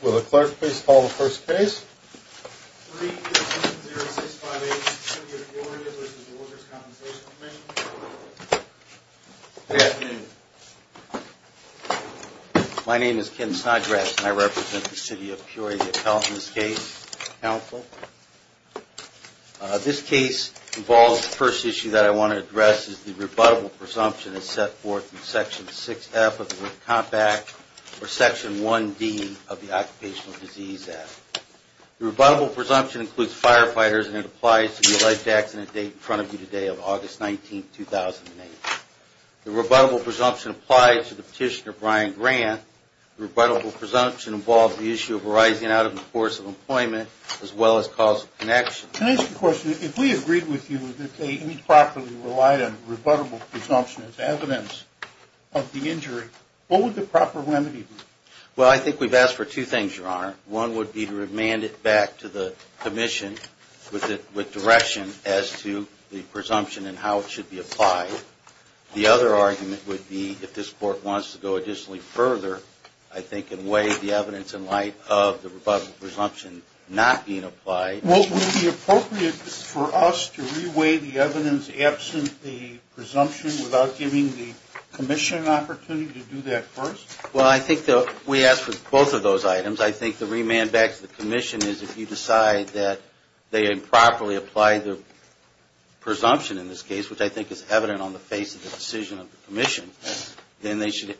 Good afternoon. My name is Ken Snodgrass and I represent the City of Peoria to help in this case. This case involves the first issue that I want to address is the rebuttable presumption that is set forth in Section 6F of the Work Compact or Section 1D of the U.S. Compensation Act. The rebuttable presumption includes firefighters and it applies to the life accident date in front of you today of August 19, 2008. The rebuttable presumption applies to the petitioner Brian Grant. The rebuttable presumption involves the issue of arising out of the course of employment as well as cause of connection. Can I ask a question? If we agreed with you that they improperly relied on the rebuttable presumption as evidence of the injury, what would the proper remedy be? Well, I think we've asked for two things, Your Honor. One would be to remand it back to the Commission with direction as to the presumption and how it should be applied. The other argument would be if this Court wants to go additionally further, I think in way the evidence in light of the rebuttable presumption not being applied. Would it be appropriate for us to reweigh the evidence absent the presumption without giving the Commission an opportunity to do that first? Well, I think we asked for both of those items. I think the remand back to the Commission is if you decide that they improperly applied the presumption in this case, which I think is evident on the face of the decision of the Commission, then they should,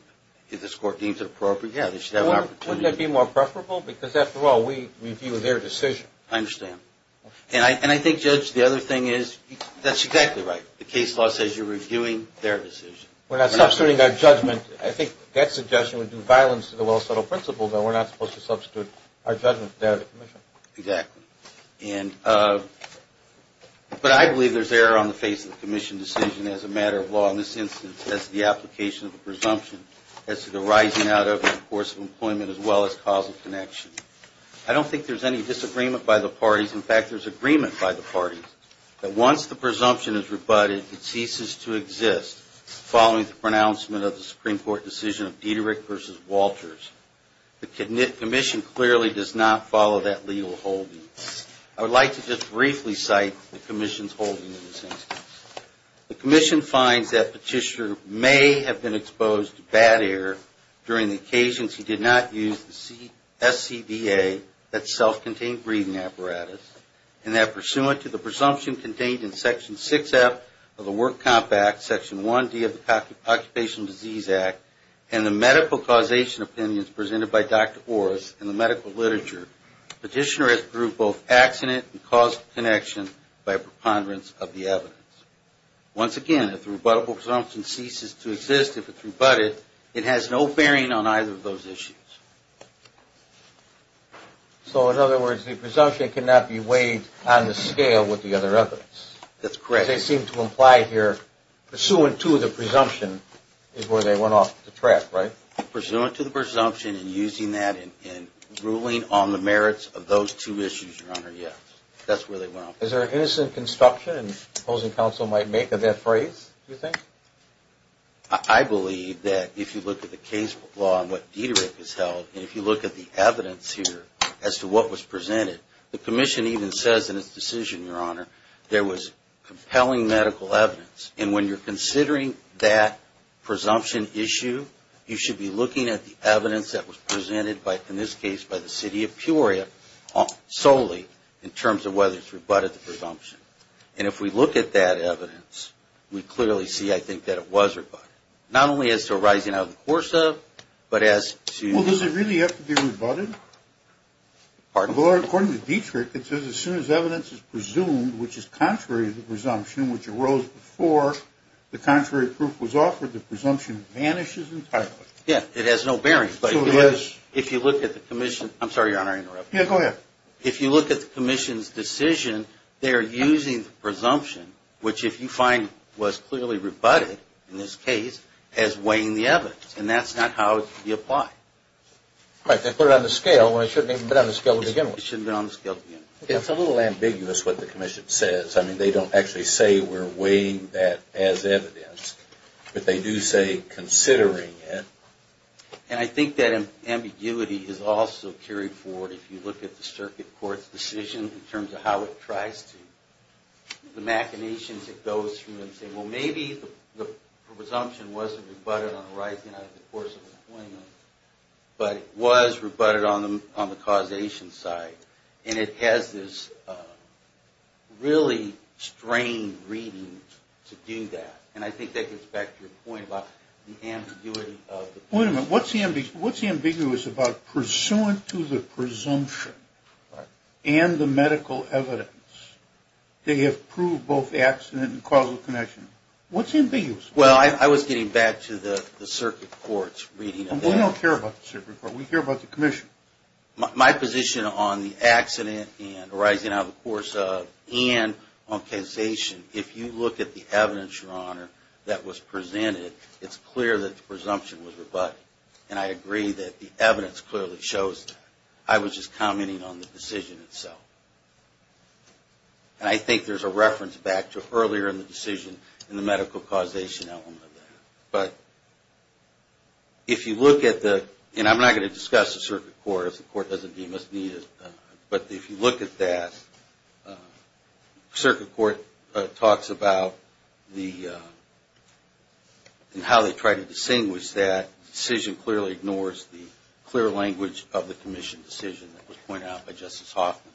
if this Court deems it appropriate, yeah, they should have an opportunity. Wouldn't that be more preferable? Because after all, we review their decision. I understand. And I think, Judge, the other thing is that's exactly right. The case law says you're reviewing their decision. We're not substituting our judgment. I think that suggestion would do violence to the well-settled principle that we're not supposed to substitute our judgment to the Commission. Exactly. But I believe there's error on the face of the Commission decision as a matter of law. In this instance, that's the application of the presumption as to the rising out over the course of employment as well as causal connection. I don't think there's any disagreement by the parties. In fact, there's agreement by the parties that once the presumption is rebutted, it ceases to exist following the pronouncement of the Supreme Court decision of Diederick v. Walters. The Commission clearly does not follow that legal holding. I would like to just briefly cite the Commission's holding in this instance. The Commission finds that Petitioner may have been exposed to bad air during the occasions he did not use the SCBA, that self-contained breathing apparatus, and that pursuant to the presumption contained in Section 6F of the Work Compact, Section 1D of the Occupational Disease Act, and the medical causation opinions presented by Dr. Orris in the medical literature, Petitioner has proved both accident and causal connection by preponderance of the evidence. Once again, if the rebuttable presumption ceases to exist if it's rebutted, it has no bearing on either of those issues. So in other words, the presumption cannot be weighed on the scale with the other evidence. That's correct. They seem to imply here, pursuant to the presumption is where they went off the track, right? Pursuant to the presumption and using that and ruling on the merits of those two issues, Your Honor, yes. That's where they went off the track. Is there an innocent construction the opposing counsel might make of that phrase, do you think? I believe that if you look at the case law and what Dieterich has held, and if you look at the evidence here as to what was presented, the Commission even says in its decision, Your Honor, there was compelling medical evidence. And when you're considering that presumption issue, you should be looking at the evidence that was presented by, in this case, by the City of Peoria solely in terms of whether it's rebutted the presumption. And if we look at that evidence, we clearly see, I think, that it was rebutted. Not only as to rising out of the course of, but as to... Well, does it really have to be rebutted? Pardon? Well, according to Dieterich, it says as soon as evidence is presumed, which is contrary to the presumption, which arose before the contrary proof was offered, the presumption vanishes entirely. Yeah, it has no bearing, but if you look at the Commission... I'm sorry, Your Honor, I interrupted you. Yeah, go ahead. If you look at the Commission's decision, they're using the presumption, which if you find was clearly rebutted, in this case, as weighing the evidence, and that's not how it should be applied. Right, they put it on the scale when it shouldn't even have been on the scale to begin with. It shouldn't have been on the scale to begin with. It's a little ambiguous what the Commission says. I mean, they don't actually say we're weighing that as evidence, but they do say considering it. And I think that ambiguity is also carried forward if you look at the Circuit Court's decision in terms of how it tries to... The machinations it goes through and say, well, maybe the presumption wasn't rebutted on the rise and out of the course of the plaintiff, but it was rebutted on the causation side. And it has this really strange reading to do that. And I think that gets back to your point about the ambiguity of the... Wait a minute. What's ambiguous about pursuant to the presumption and the medical evidence, they have proved both accident and causal connection? What's ambiguous? Well, I was getting back to the Circuit Court's reading of that. We don't care about the Circuit Court. We care about the Commission. My position on the accident and rising out of the course of and on causation, if you look at the evidence, Your Honor, that was presented, it's clear that the presumption was rebutted. And I agree that the evidence clearly shows that. I was just commenting on the decision itself. And I think there's a reference back to earlier in the decision in the medical causation element of that. But if you look at the... And I'm not going to discuss the Circuit Court. If the Court doesn't deem us needed. But if you look at that, Circuit Court talks about the... And how they try to distinguish that. The decision clearly ignores the clear language of the Commission decision that was pointed out by Justice Hoffman.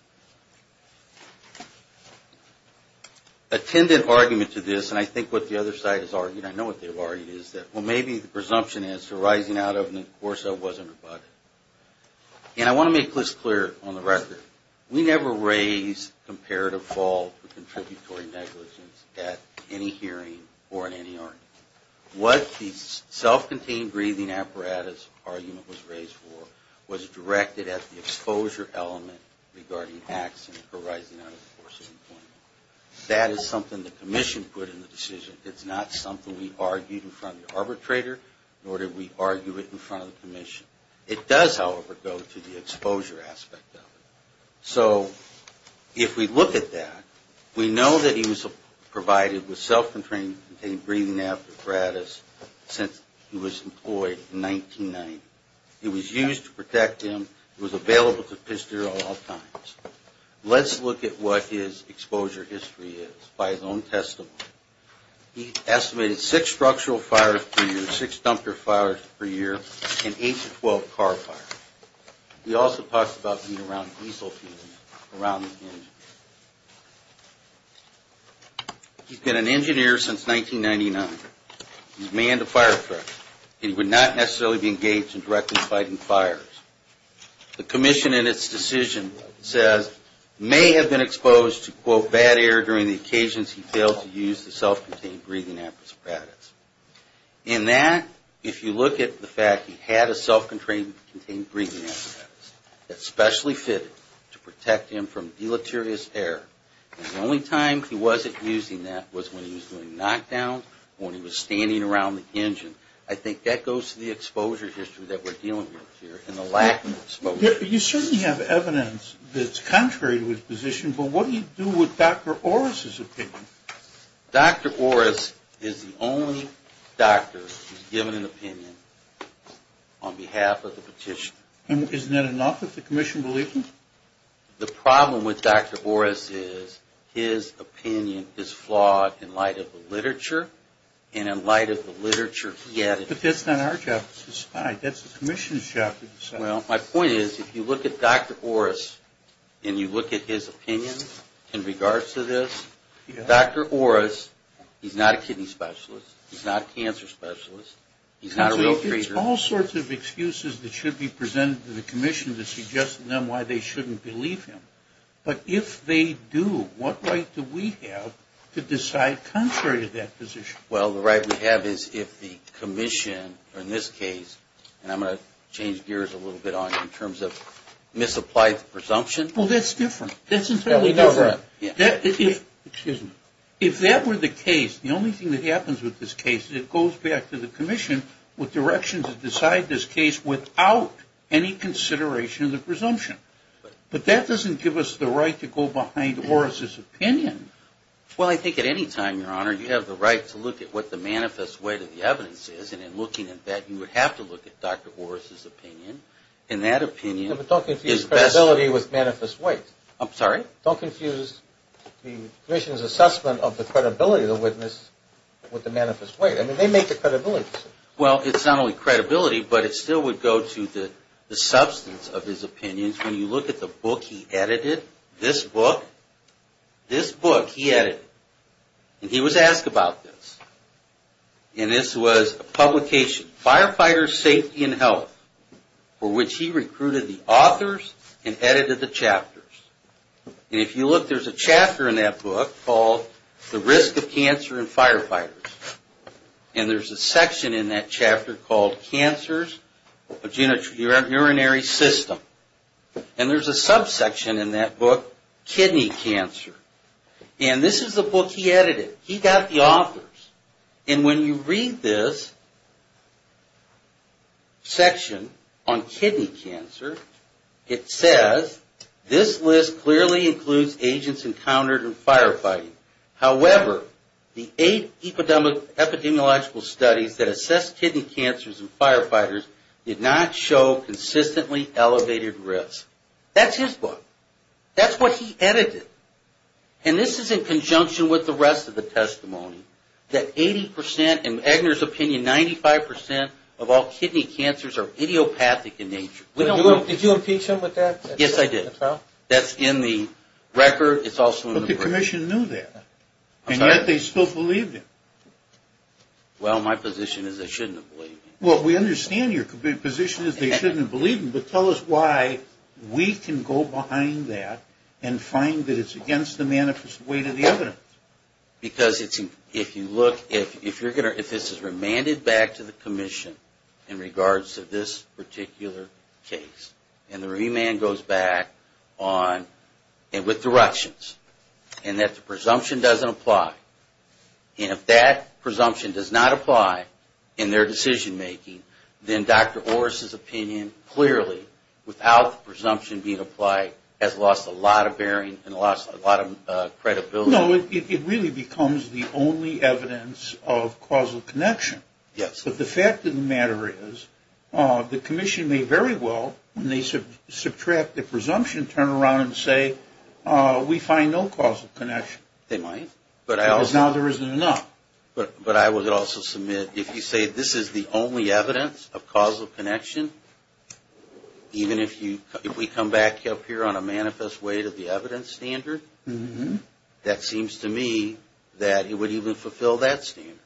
Attendant argument to this. And I think what the other side has argued, I know what they've argued, is that, well, maybe the presumption is for rising out of the course of wasn't rebutted. And I want to make this clear on the record. We never raised comparative fault for contributory negligence at any hearing or in any argument. What the self-contained breathing apparatus argument was raised for was directed at the exposure element regarding acts and rising out of the course of employment. That is something the Commission put in the decision. It's not something we argued in front of the arbitrator, nor did we argue it in front of the Commission. It does, however, go to the exposure aspect of it. So if we look at that, we know that he was provided with self-contained breathing apparatus since he was employed in 1990. It was used to protect him. It was available to Pistero at all times. Let's look at what his exposure history is by his own testimony. He estimated six structural fires per year, six dumpster fires per year, and eight to 12 car fires. He also talks about being around diesel fumes around the engine. He's been an engineer since 1999. He's manned a fire truck, and he would not necessarily be engaged in directly fighting fires. The Commission in its decision says, may have been exposed to, quote, bad air during the occasions he failed to use the self-contained breathing apparatus. In that, if you look at the fact he had a self-contained breathing apparatus that specially fitted to protect him from deleterious air. The only time he wasn't using that was when he was doing knockdowns, when he was standing around the engine. I think that goes to the exposure history that we're dealing with here, and the lack of exposure. You certainly have evidence that's contrary to his position, but what do you do with Dr. Orris' opinion? Dr. Orris is the only doctor who's given an opinion on behalf of the petition. And isn't that enough that the Commission believes him? The problem with Dr. Orris is his opinion is flawed in light of the literature, and in light of the literature he added. But that's not our job to decide. That's the Commission's job to decide. Well, my point is, if you look at Dr. Orris, and you look at his opinion in regards to this, Dr. Orris, he's not a kidney specialist. He's not a cancer specialist. He's not a real treater. It's all sorts of excuses that should be presented to the Commission to suggest to them why they shouldn't believe him. But if they do, what right do we have to decide contrary to that position? Well, the right we have is if the Commission, or in this case, and I'm going to change gears a little bit on it in terms of misapplied presumption. Oh, that's different. That's entirely different. If that were the case, the only thing that happens with this case is it goes back to the Commission with direction to decide this case without any consideration of the presumption. But that doesn't give us the right to go behind Orris' opinion. Well, I think at any time, Your Honor, you have the right to look at what the manifest weight of the evidence is. And in looking at that, you would have to look at Dr. Orris' opinion. But don't confuse credibility with manifest weight. I'm sorry? Don't confuse the Commission's assessment of the credibility of the witness with the manifest weight. I mean, they make the credibility. Well, it's not only credibility, but it still would go to the substance of his opinions. When you look at the book he edited, this book, this book he edited, and he was asked about this. And this was a publication, Firefighter Safety and Health, for which he recruited the authors and edited the chapters. And if you look, there's a chapter in that book called The Risk of Cancer in Firefighters. And there's a section in that chapter called Cancers of the Urinary System. And there's a subsection in that book, Kidney Cancer. And this is the book he edited. He got the authors. And when you read this section on kidney cancer, it says, this list clearly includes agents encountered in firefighting. However, the eight epidemiological studies that assessed kidney cancers in firefighters did not show consistently elevated risk. That's his book. That's what he edited. And this is in conjunction with the rest of the testimony, that 80 percent, in Eggner's opinion, 95 percent of all kidney cancers are idiopathic in nature. Did you impeach him with that? Yes, I did. That's in the record. But the commission knew that. And yet they still believed him. Well, my position is they shouldn't have believed him. Well, we understand your position is they shouldn't have believed him. But tell us why we can go behind that and find that it's against the manifest weight of the evidence. Because if you look, if this is remanded back to the commission in regards to this particular case, and the remand goes back with directions, and that the presumption doesn't apply. And if that presumption does not apply in their decision making, then Dr. Orris' opinion clearly, without the presumption being applied, has lost a lot of bearing and lost a lot of credibility. It really becomes the only evidence of causal connection. Yes. But the fact of the matter is, the commission may very well, when they subtract the presumption turnaround and say, we find no causal connection. They might. Because now there isn't enough. But I would also submit, if you say this is the only evidence of causal connection, even if we come back up here on a manifest weight of the evidence standard, that seems to me that it would even fulfill that standard.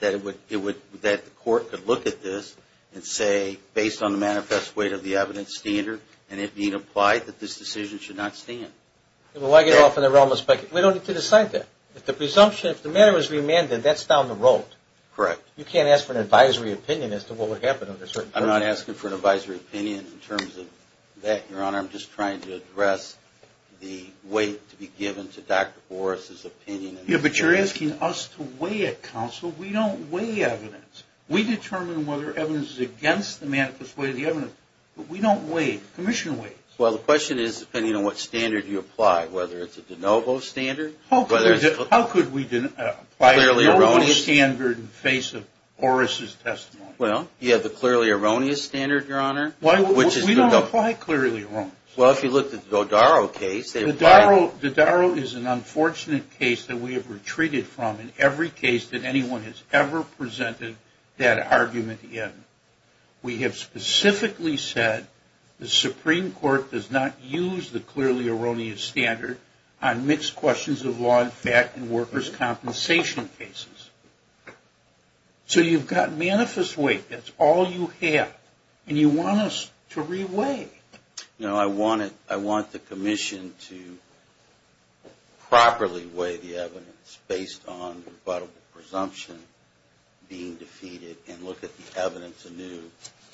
That the court could look at this and say, based on the manifest weight of the evidence standard, and it being applied, that this decision should not stand. Well, I get off in the realm of speculation. We don't need to decide that. If the presumption, if the matter is remanded, that's down the road. Correct. You can't ask for an advisory opinion as to what would happen. I'm not asking for an advisory opinion in terms of that, Your Honor. I'm just trying to address the weight to be given to Dr. Boris' opinion. But you're asking us to weigh a counsel. We don't weigh evidence. We determine whether evidence is against the manifest weight of the evidence. But we don't weigh it. Well, the question is, depending on what standard you apply, whether it's a de novo standard. How could we apply a de novo standard in the face of Boris' testimony? Well, you have the clearly erroneous standard, Your Honor. We don't apply clearly erroneous. Well, if you look at the Dodaro case. Dodaro is an unfortunate case that we have retreated from in every case that anyone has ever presented that argument in. We have specifically said the Supreme Court does not use the clearly erroneous standard on mixed questions of law and fact in workers' compensation cases. So you've got manifest weight. That's all you have. And you want us to re-weigh. No, I want the commission to properly weigh the evidence based on rebuttable presumption being defeated and look at the evidence anew.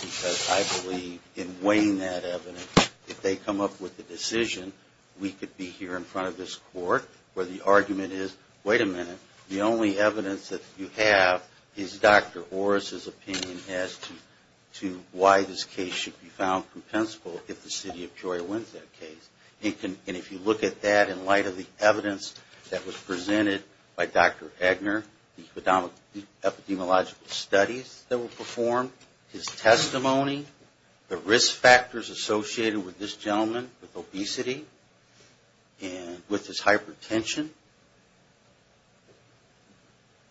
Because I believe in weighing that evidence, if they come up with a decision, we could be here in front of this court where the argument is, wait a minute, the only evidence that you have is Dr. Orris' opinion as to why this case should be found compensable if the city of Georgia wins that case. And if you look at that in light of the evidence that was presented by Dr. Eggner, the epidemiological studies that were performed, his testimony, the risk factors associated with this gentleman with obesity and with his hypertension,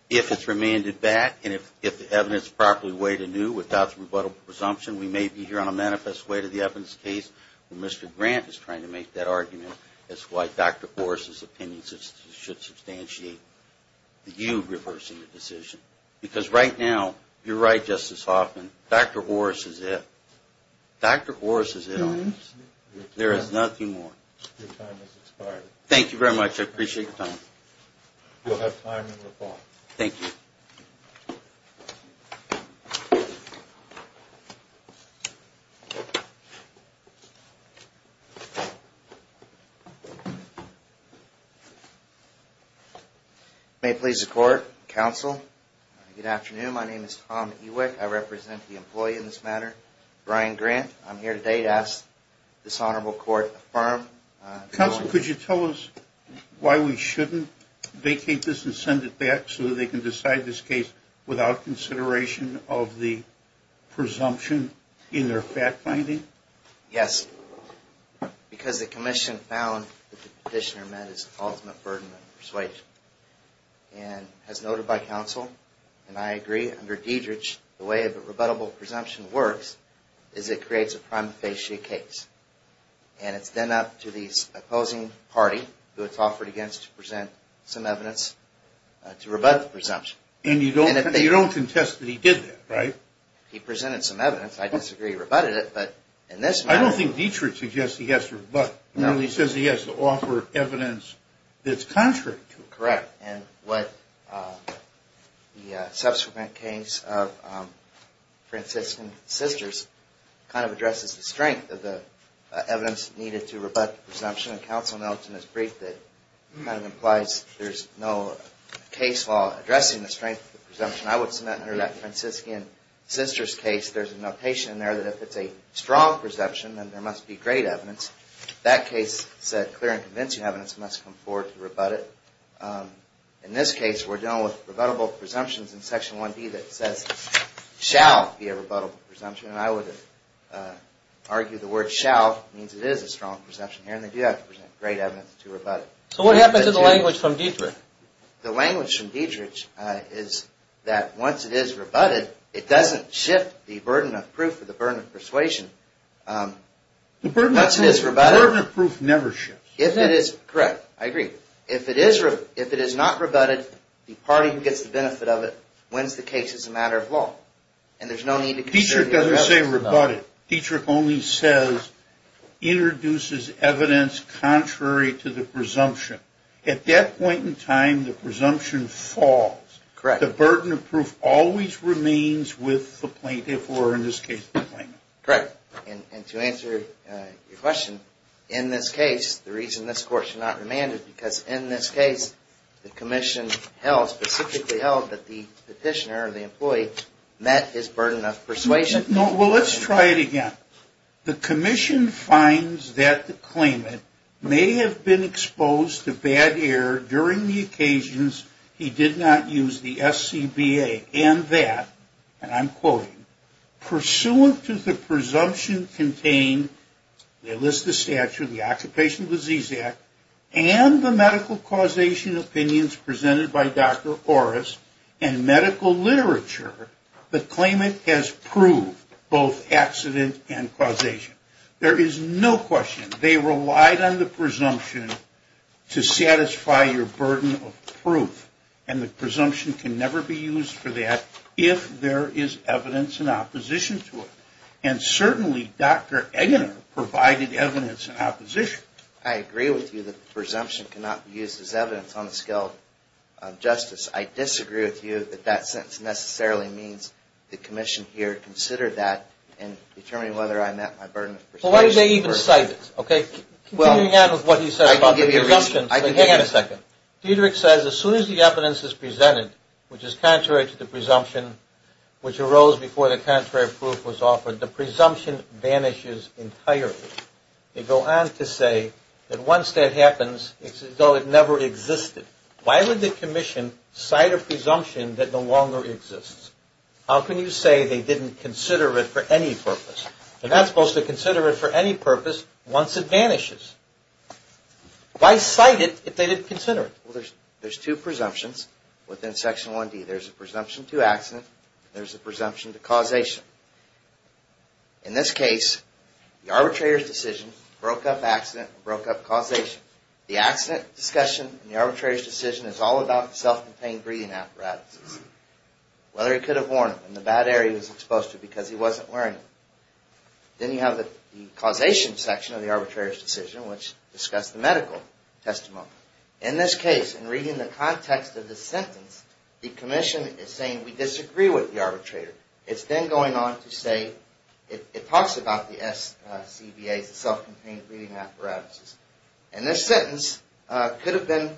if it's remanded back and if the evidence is properly weighed anew without the rebuttable presumption, we may be here on a manifest weight of the evidence case where Mr. Grant is trying to make that argument as to why Dr. Orris' opinion should substantiate you reversing the decision. Because right now, you're right Justice Hoffman, Dr. Orris is it. Dr. Orris is it on this. There is nothing more. Thank you very much, I appreciate your time. You'll have time in the fall. May it please the court, counsel, good afternoon, my name is Tom Ewick, I represent the employee in this matter, Brian Grant, I'm here today to ask this petitioner to vacate this and send it back so they can decide this case without consideration of the presumption in their fact finding? Yes, because the commission found that the petitioner met his ultimate burden of persuasion. And as noted by counsel, and I agree, under Diederich, the way a rebuttable presumption works is it creates a prime facie case. And it's then up to the opposing party who it's offered against to present some evidence to rebut the presumption. And you don't contest that he did that, right? He presented some evidence, I disagree he rebutted it, but in this matter... I don't think Diederich suggests he has to rebut, he says he has to offer evidence that's contrary to it. Correct, and what the subsequent case of Franciscan Sisters kind of addresses the strength of the evidence needed to rebut the presumption, and counsel notes in his brief that it kind of implies there's no case law addressing the strength of the presumption. I would submit under that Franciscan Sisters case, there's a notation in there that if it's a strong presumption, then there must be great evidence. That case said clear and convincing evidence must come forward to rebut it. In this case, we're dealing with rebuttable presumptions in Section 1B that says shall be a rebuttable presumption, and I would argue the word shall means it is a strong presumption here, and they do have to present great evidence to rebut it. The language from Diederich is that once it is rebutted, it doesn't shift the burden of proof or the burden of persuasion. The burden of proof never shifts. Correct, I agree. If it is not rebutted, the party who gets the benefit of it wins the case as a matter of law, and there's no need to consider the other options. Diederich doesn't say rebut it. Diederich only says introduces evidence contrary to the presumption. At that point in time, the presumption falls. The burden of proof always remains with the plaintiff or, in this case, the claimant. Correct, and to answer your question, in this case, the reason this Court should not remand it is because in this case, the Commission held, specifically held, that the petitioner or the employee met his burden of persuasion. Well, let's try it again. The Commission finds that the claimant may have been exposed to bad air during the occasions he did not use the SCBA and that, and I'm quoting, pursuant to the presumption contained, they list the statute, the Occupational Disease Act, and the medical causation opinions presented by Dr. Orris and medical literature, the claimant has proved both accident and causation. There is no question they relied on the presumption to satisfy your burden of proof, and the presumption can never be used for that if there is evidence in opposition to it, and certainly Dr. Eggener provided evidence in opposition. I agree with you that the presumption cannot be used as evidence on the scale of that and determining whether I met my burden of persuasion. Well, why do they even cite it? Okay, continuing on with what you said about the presumption. Hang on a second. Diederick says, as soon as the evidence is presented, which is contrary to the presumption, which arose before the contrary proof was offered, the presumption vanishes entirely. They go on to say that once that happens, it's as though it never existed. Why would the commission cite a presumption that no longer exists? How can you say they didn't consider it for any purpose? They're not supposed to consider it for any purpose once it vanishes. Why cite it if they didn't consider it? There's two presumptions within Section 1D. There's a presumption to accident and there's a presumption to causation. In this case, the arbitrator's decision broke up accident and broke up causation. The accident discussion and the arbitrator's decision is all about self-contained breathing apparatuses. Whether he could have worn them in the bad air he was exposed to because he wasn't wearing them. Then you have the causation section of the arbitrator's decision, which discussed the medical testimony. In this case, in reading the context of the sentence, the commission is saying we disagree with the arbitrator. It's then going on to say, it talks about the SCBA, the self-contained breathing apparatuses. And this sentence could have been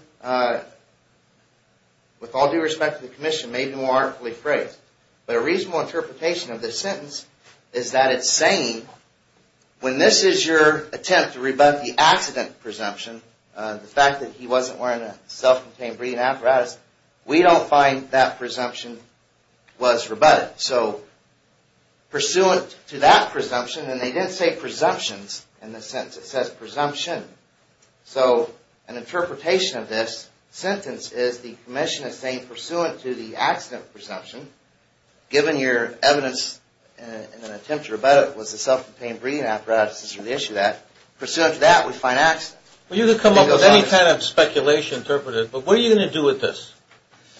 with all due respect to the commission, made more artfully phrased. But a reasonable interpretation of this sentence is that it's saying when this is your attempt to rebut the accident presumption, the fact that he wasn't wearing a self-contained breathing apparatus, we don't find that presumption was rebutted. So pursuant to that presumption, and they didn't say presumptions in this sentence, it says presumption. So an interpretation of this sentence is the commission is saying pursuant to the accident presumption, given your evidence in an attempt to rebut it was the self-contained breathing apparatuses or the issue of that, pursuant to that, we find accident. But what are you going to do with this?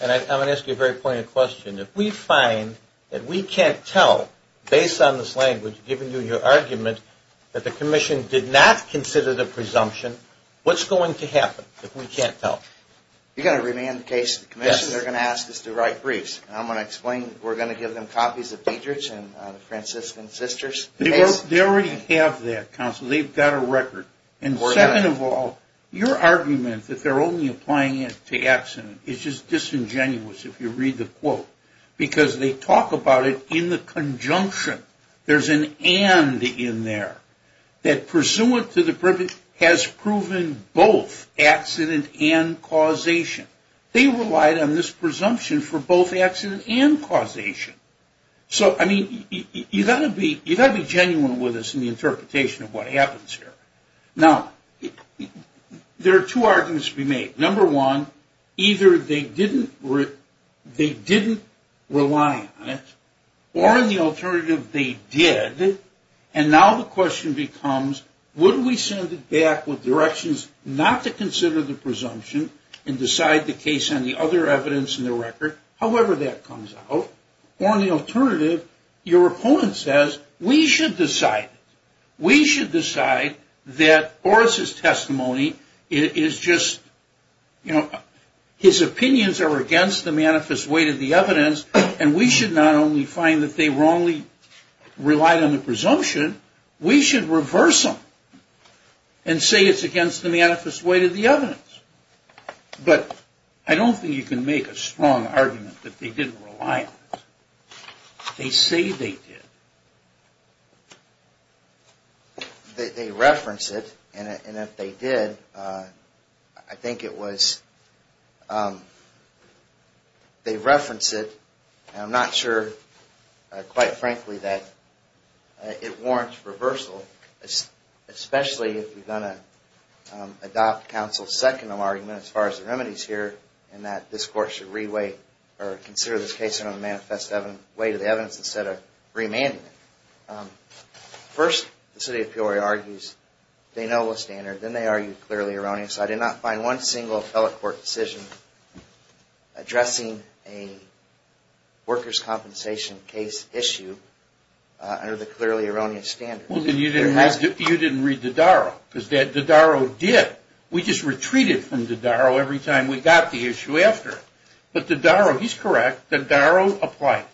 And I'm going to ask you a very pointed question. If we find that we can't tell, based on this language, given your argument that the commission did not consider the presumption, what's going to happen if we can't tell? You're going to remand the case to the commission. They're going to ask us to write briefs. I'm going to explain, we're going to give them copies of Diederich and the Franciscan Sisters case. They already have that, counsel. They've got a record. And second of all, your argument that they're only applying it to accident is just disingenuous, if you read the quote. Because they talk about it in the conjunction. There's an and in there. That pursuant to the privilege has proven both accident and causation. They relied on this presumption for both accident and causation. So, I mean, you've got to be genuine with us in the interpretation of what happens here. Now, there are two arguments to be made. Number one, either they didn't rely on it, or in the alternative, they did. And now the question becomes, would we send it back with directions not to consider the presumption and decide the case on the other evidence in the record, however that comes out? Or in the alternative, your opponent says, we should decide it. We should decide that Boris' testimony is just, you know, his opinions are against the manifest weight of the evidence, and we should not only find that they wrongly relied on the presumption, we should reverse them and say it's against the manifest weight of the evidence. But I don't think you can make a strong argument that they didn't rely on it. They say they did. They reference it, and if they did, I think it was they reference it, and I'm not sure, quite frankly, that it warrants reversal, especially if you're going to adopt counsel's second argument as far as the remedies here in that this Court should consider this case on the manifest weight of the evidence instead of remanding it. First, the city of Peoria argues they know the standard, then they argue clearly erroneous. I did not find one single court decision addressing a workers' compensation case issue under the clearly erroneous standard. You didn't read Dodaro, because Dodaro did. We just retreated from Dodaro every time we got the issue after. But Dodaro, he's correct, Dodaro applied.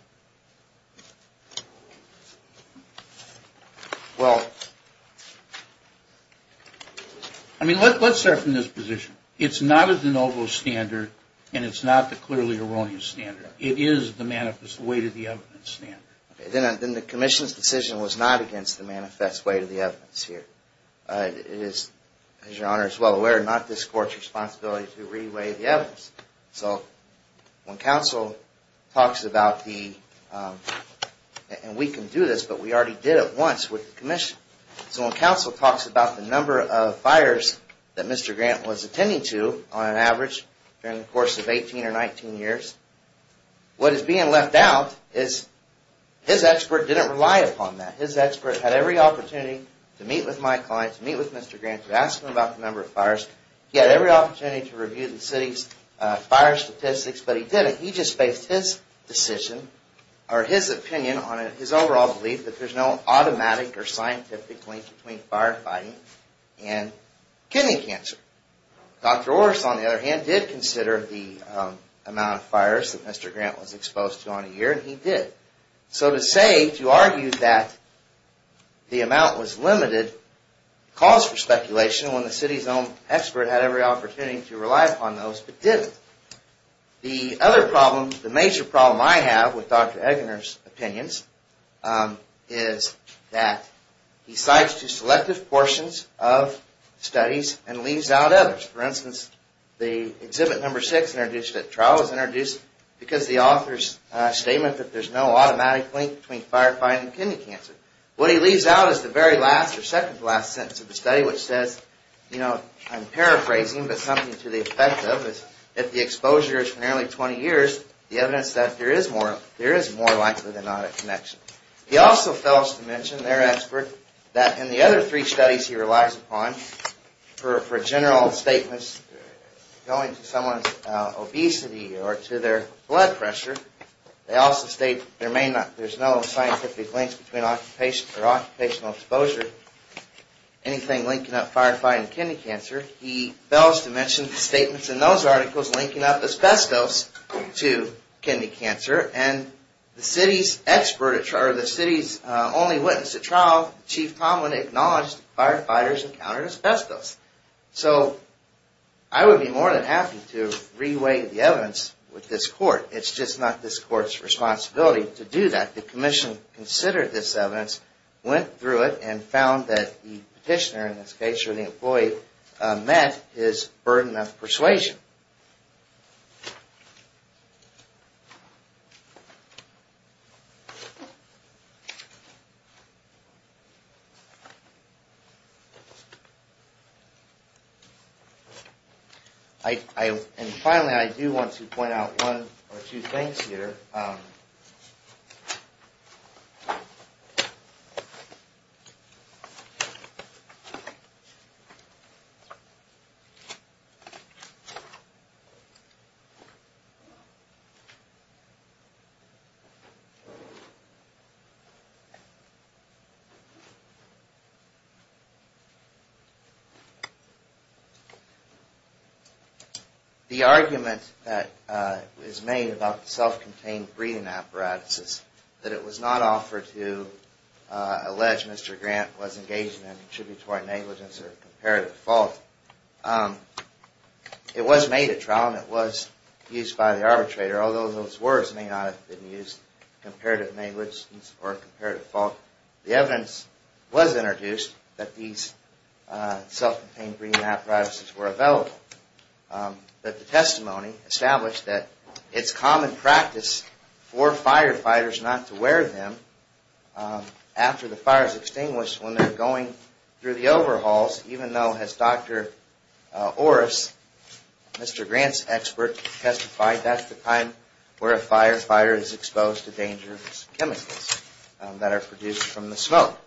Well, I mean, let's start from this position. It's not a de novo standard, and it's not the clearly erroneous standard. It is the manifest weight of the evidence standard. Then the Commission's decision was not against the manifest weight of the evidence here. It is, as Your Honor is well aware, not this Court's responsibility to do this, but we already did it once with the Commission. So when counsel talks about the number of fires that Mr. Grant was attending to on average during the course of 18 or 19 years, what is being left out is his expert didn't rely upon that. His expert had every opportunity to meet with my client, to meet with Mr. Grant, to ask him about the number of fires. He had every opportunity to review the city's fire statistics, but he didn't. He just based his decision or his opinion on it, his overall belief that there's no automatic or scientific link between firefighting and kidney cancer. Dr. Orris, on the other hand, did consider the amount of fires that Mr. Grant was exposed to on a year, and he did. So to say, to argue that the amount was limited calls for speculation when the city's own expert had every opportunity to rely upon those, but didn't. The other problem, the major problem I have with Dr. Eggener's opinions is that he cites two selective portions of studies and leaves out others. For instance, the Exhibit No. 6 introduced at trial is introduced because the author's statement that there's no there's no scientific links between occupational exposure and kidney cancer. The other three studies he relies upon for general statements going to someone's obesity or to their blood pressure. They also state there may not, there's no scientific links between occupational exposure, anything linking up firefighting and kidney cancer. He fails to mention the statements in those articles linking up asbestos to kidney cancer, and the city's expert, or the city's only witness at trial, Chief Tomlin, acknowledged firefighters encountered asbestos. So I would be more than happy to re-weigh the evidence with this court. It's just not this court's responsibility to do that. The commission considered this evidence, went through it, and found that the petitioner, in this case, or the employee met his burden of persuasion. And finally, I do want to point out one or two things here. The argument that is made about self-contained breathing apparatuses, that it was not offered to allege Mr. Grant was engaged in contributory negligence or comparative fault. It was made at trial and it was used by the arbitrator, although those words may not have been used, comparative negligence or comparative fault. The evidence was introduced that these self-contained breathing apparatuses were available. But the testimony established that it's common practice for firefighters not to wear them after the fire is extinguished when they're going through the overhauls, even though, as Dr. Orris, Mr. Grant's expert, testified, that's the time where a fire is extinguished from the smoke.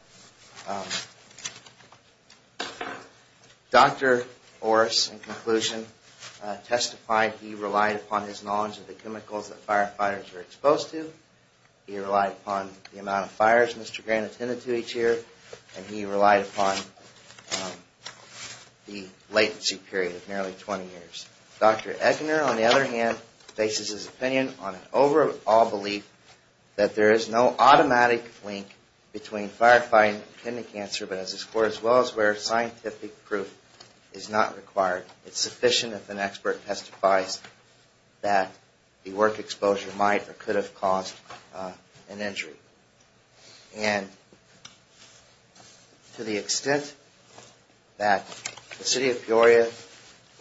Dr. Orris, in conclusion, testified he relied upon his knowledge of the chemicals that firefighters were exposed to, he relied upon the amount of fires Mr. Grant attended to each year, and he relied upon the latency period of nearly 20 years. Dr. Eckener, on the other hand, bases his opinion on an overall belief that there is no automatic link between firefighting and kidney cancer, but as is for as well as where scientific proof is not required. It's sufficient if an expert testifies that the work exposure might or could have caused an injury. And to the extent that the City of Peoria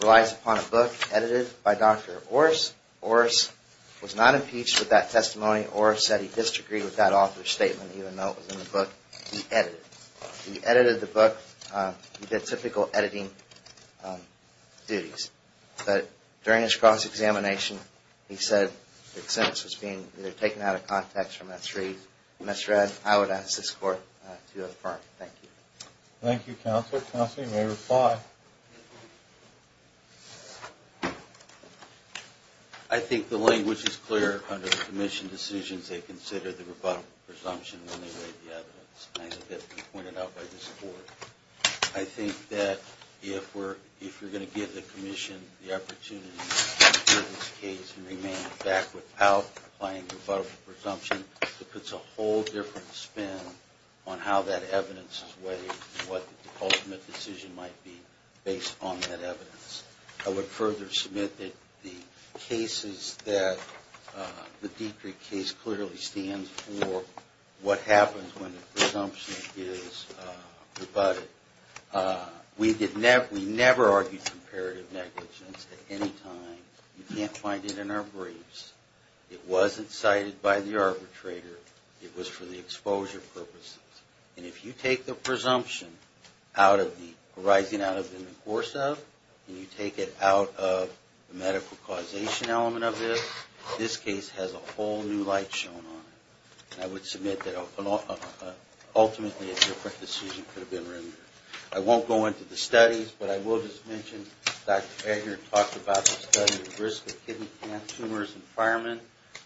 relies upon a book edited by Dr. Orris, Orris was not impeached with that testimony, or said he disagreed with that author's statement, even though it was in the book he edited. He edited the book, he did typical editing duties, but during his cross-examination he said the sentence was being either taken out of context or misread. I would ask this Court to affirm. Thank you. Thank you, Counselor. Counselor, you may reply. I think the language is clear under the Commission decisions they considered the rebuttable presumption when they laid the evidence, as has been pointed out by this Court. I think that if we're going to give the Commission the opportunity to make a whole different spin on how that evidence is weighed and what the ultimate decision might be based on that evidence. I would further submit that the cases that the Dietrich case clearly stands for what happens when the presumption is rebutted. We never argued comparative negligence at any time. You can't say it wasn't cited by the arbitrator. It was for the exposure purposes. And if you take the presumption arising out of the course of and you take it out of the medical causation element of this, this case has a whole new light shone on it. And I would submit that ultimately a different decision could have been rendered. I won't go into the studies, but I will just mention Dr. Eggert talked about the study of risk of kidney cancer tumors in firemen,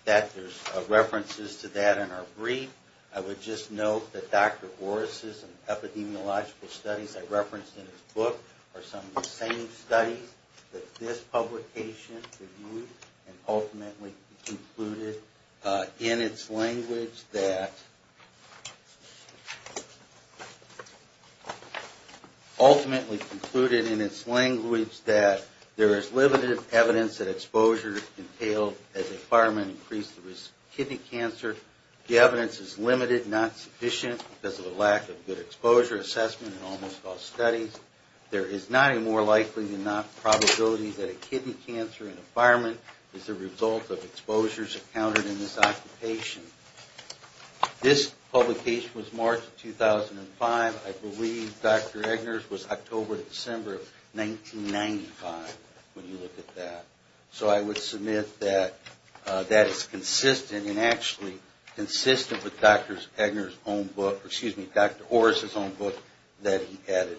that there's references to that in our brief. I would just note that Dr. Horace's epidemiological studies I referenced in his book are some of the same studies that this publication reviewed and ultimately concluded in its language that there is limited evidence that exposure entailed as a fireman increased the risk of kidney cancer. The evidence is limited, not sufficient because of the lack of good exposure assessment in almost all studies. There is not a more likely than not probability that a kidney cancer in a fireman is the result of exposures encountered in this occupation. This publication was marked in 2005. I believe Dr. Eggert's was October to December of 1995 when you look at that. So I would submit that that is consistent and actually consistent with Dr. Eggert's own book, excuse me, Dr. Horace's own book that he edited.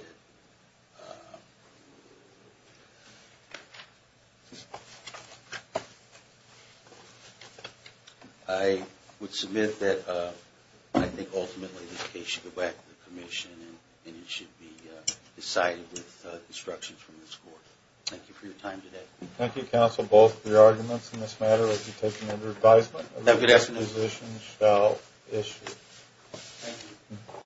I would submit that I think ultimately the case should go back to the commission and it should be decided with instructions from this court. Thank you for your time today. Thank you counsel, both of your arguments in this matter will be taken under advisement.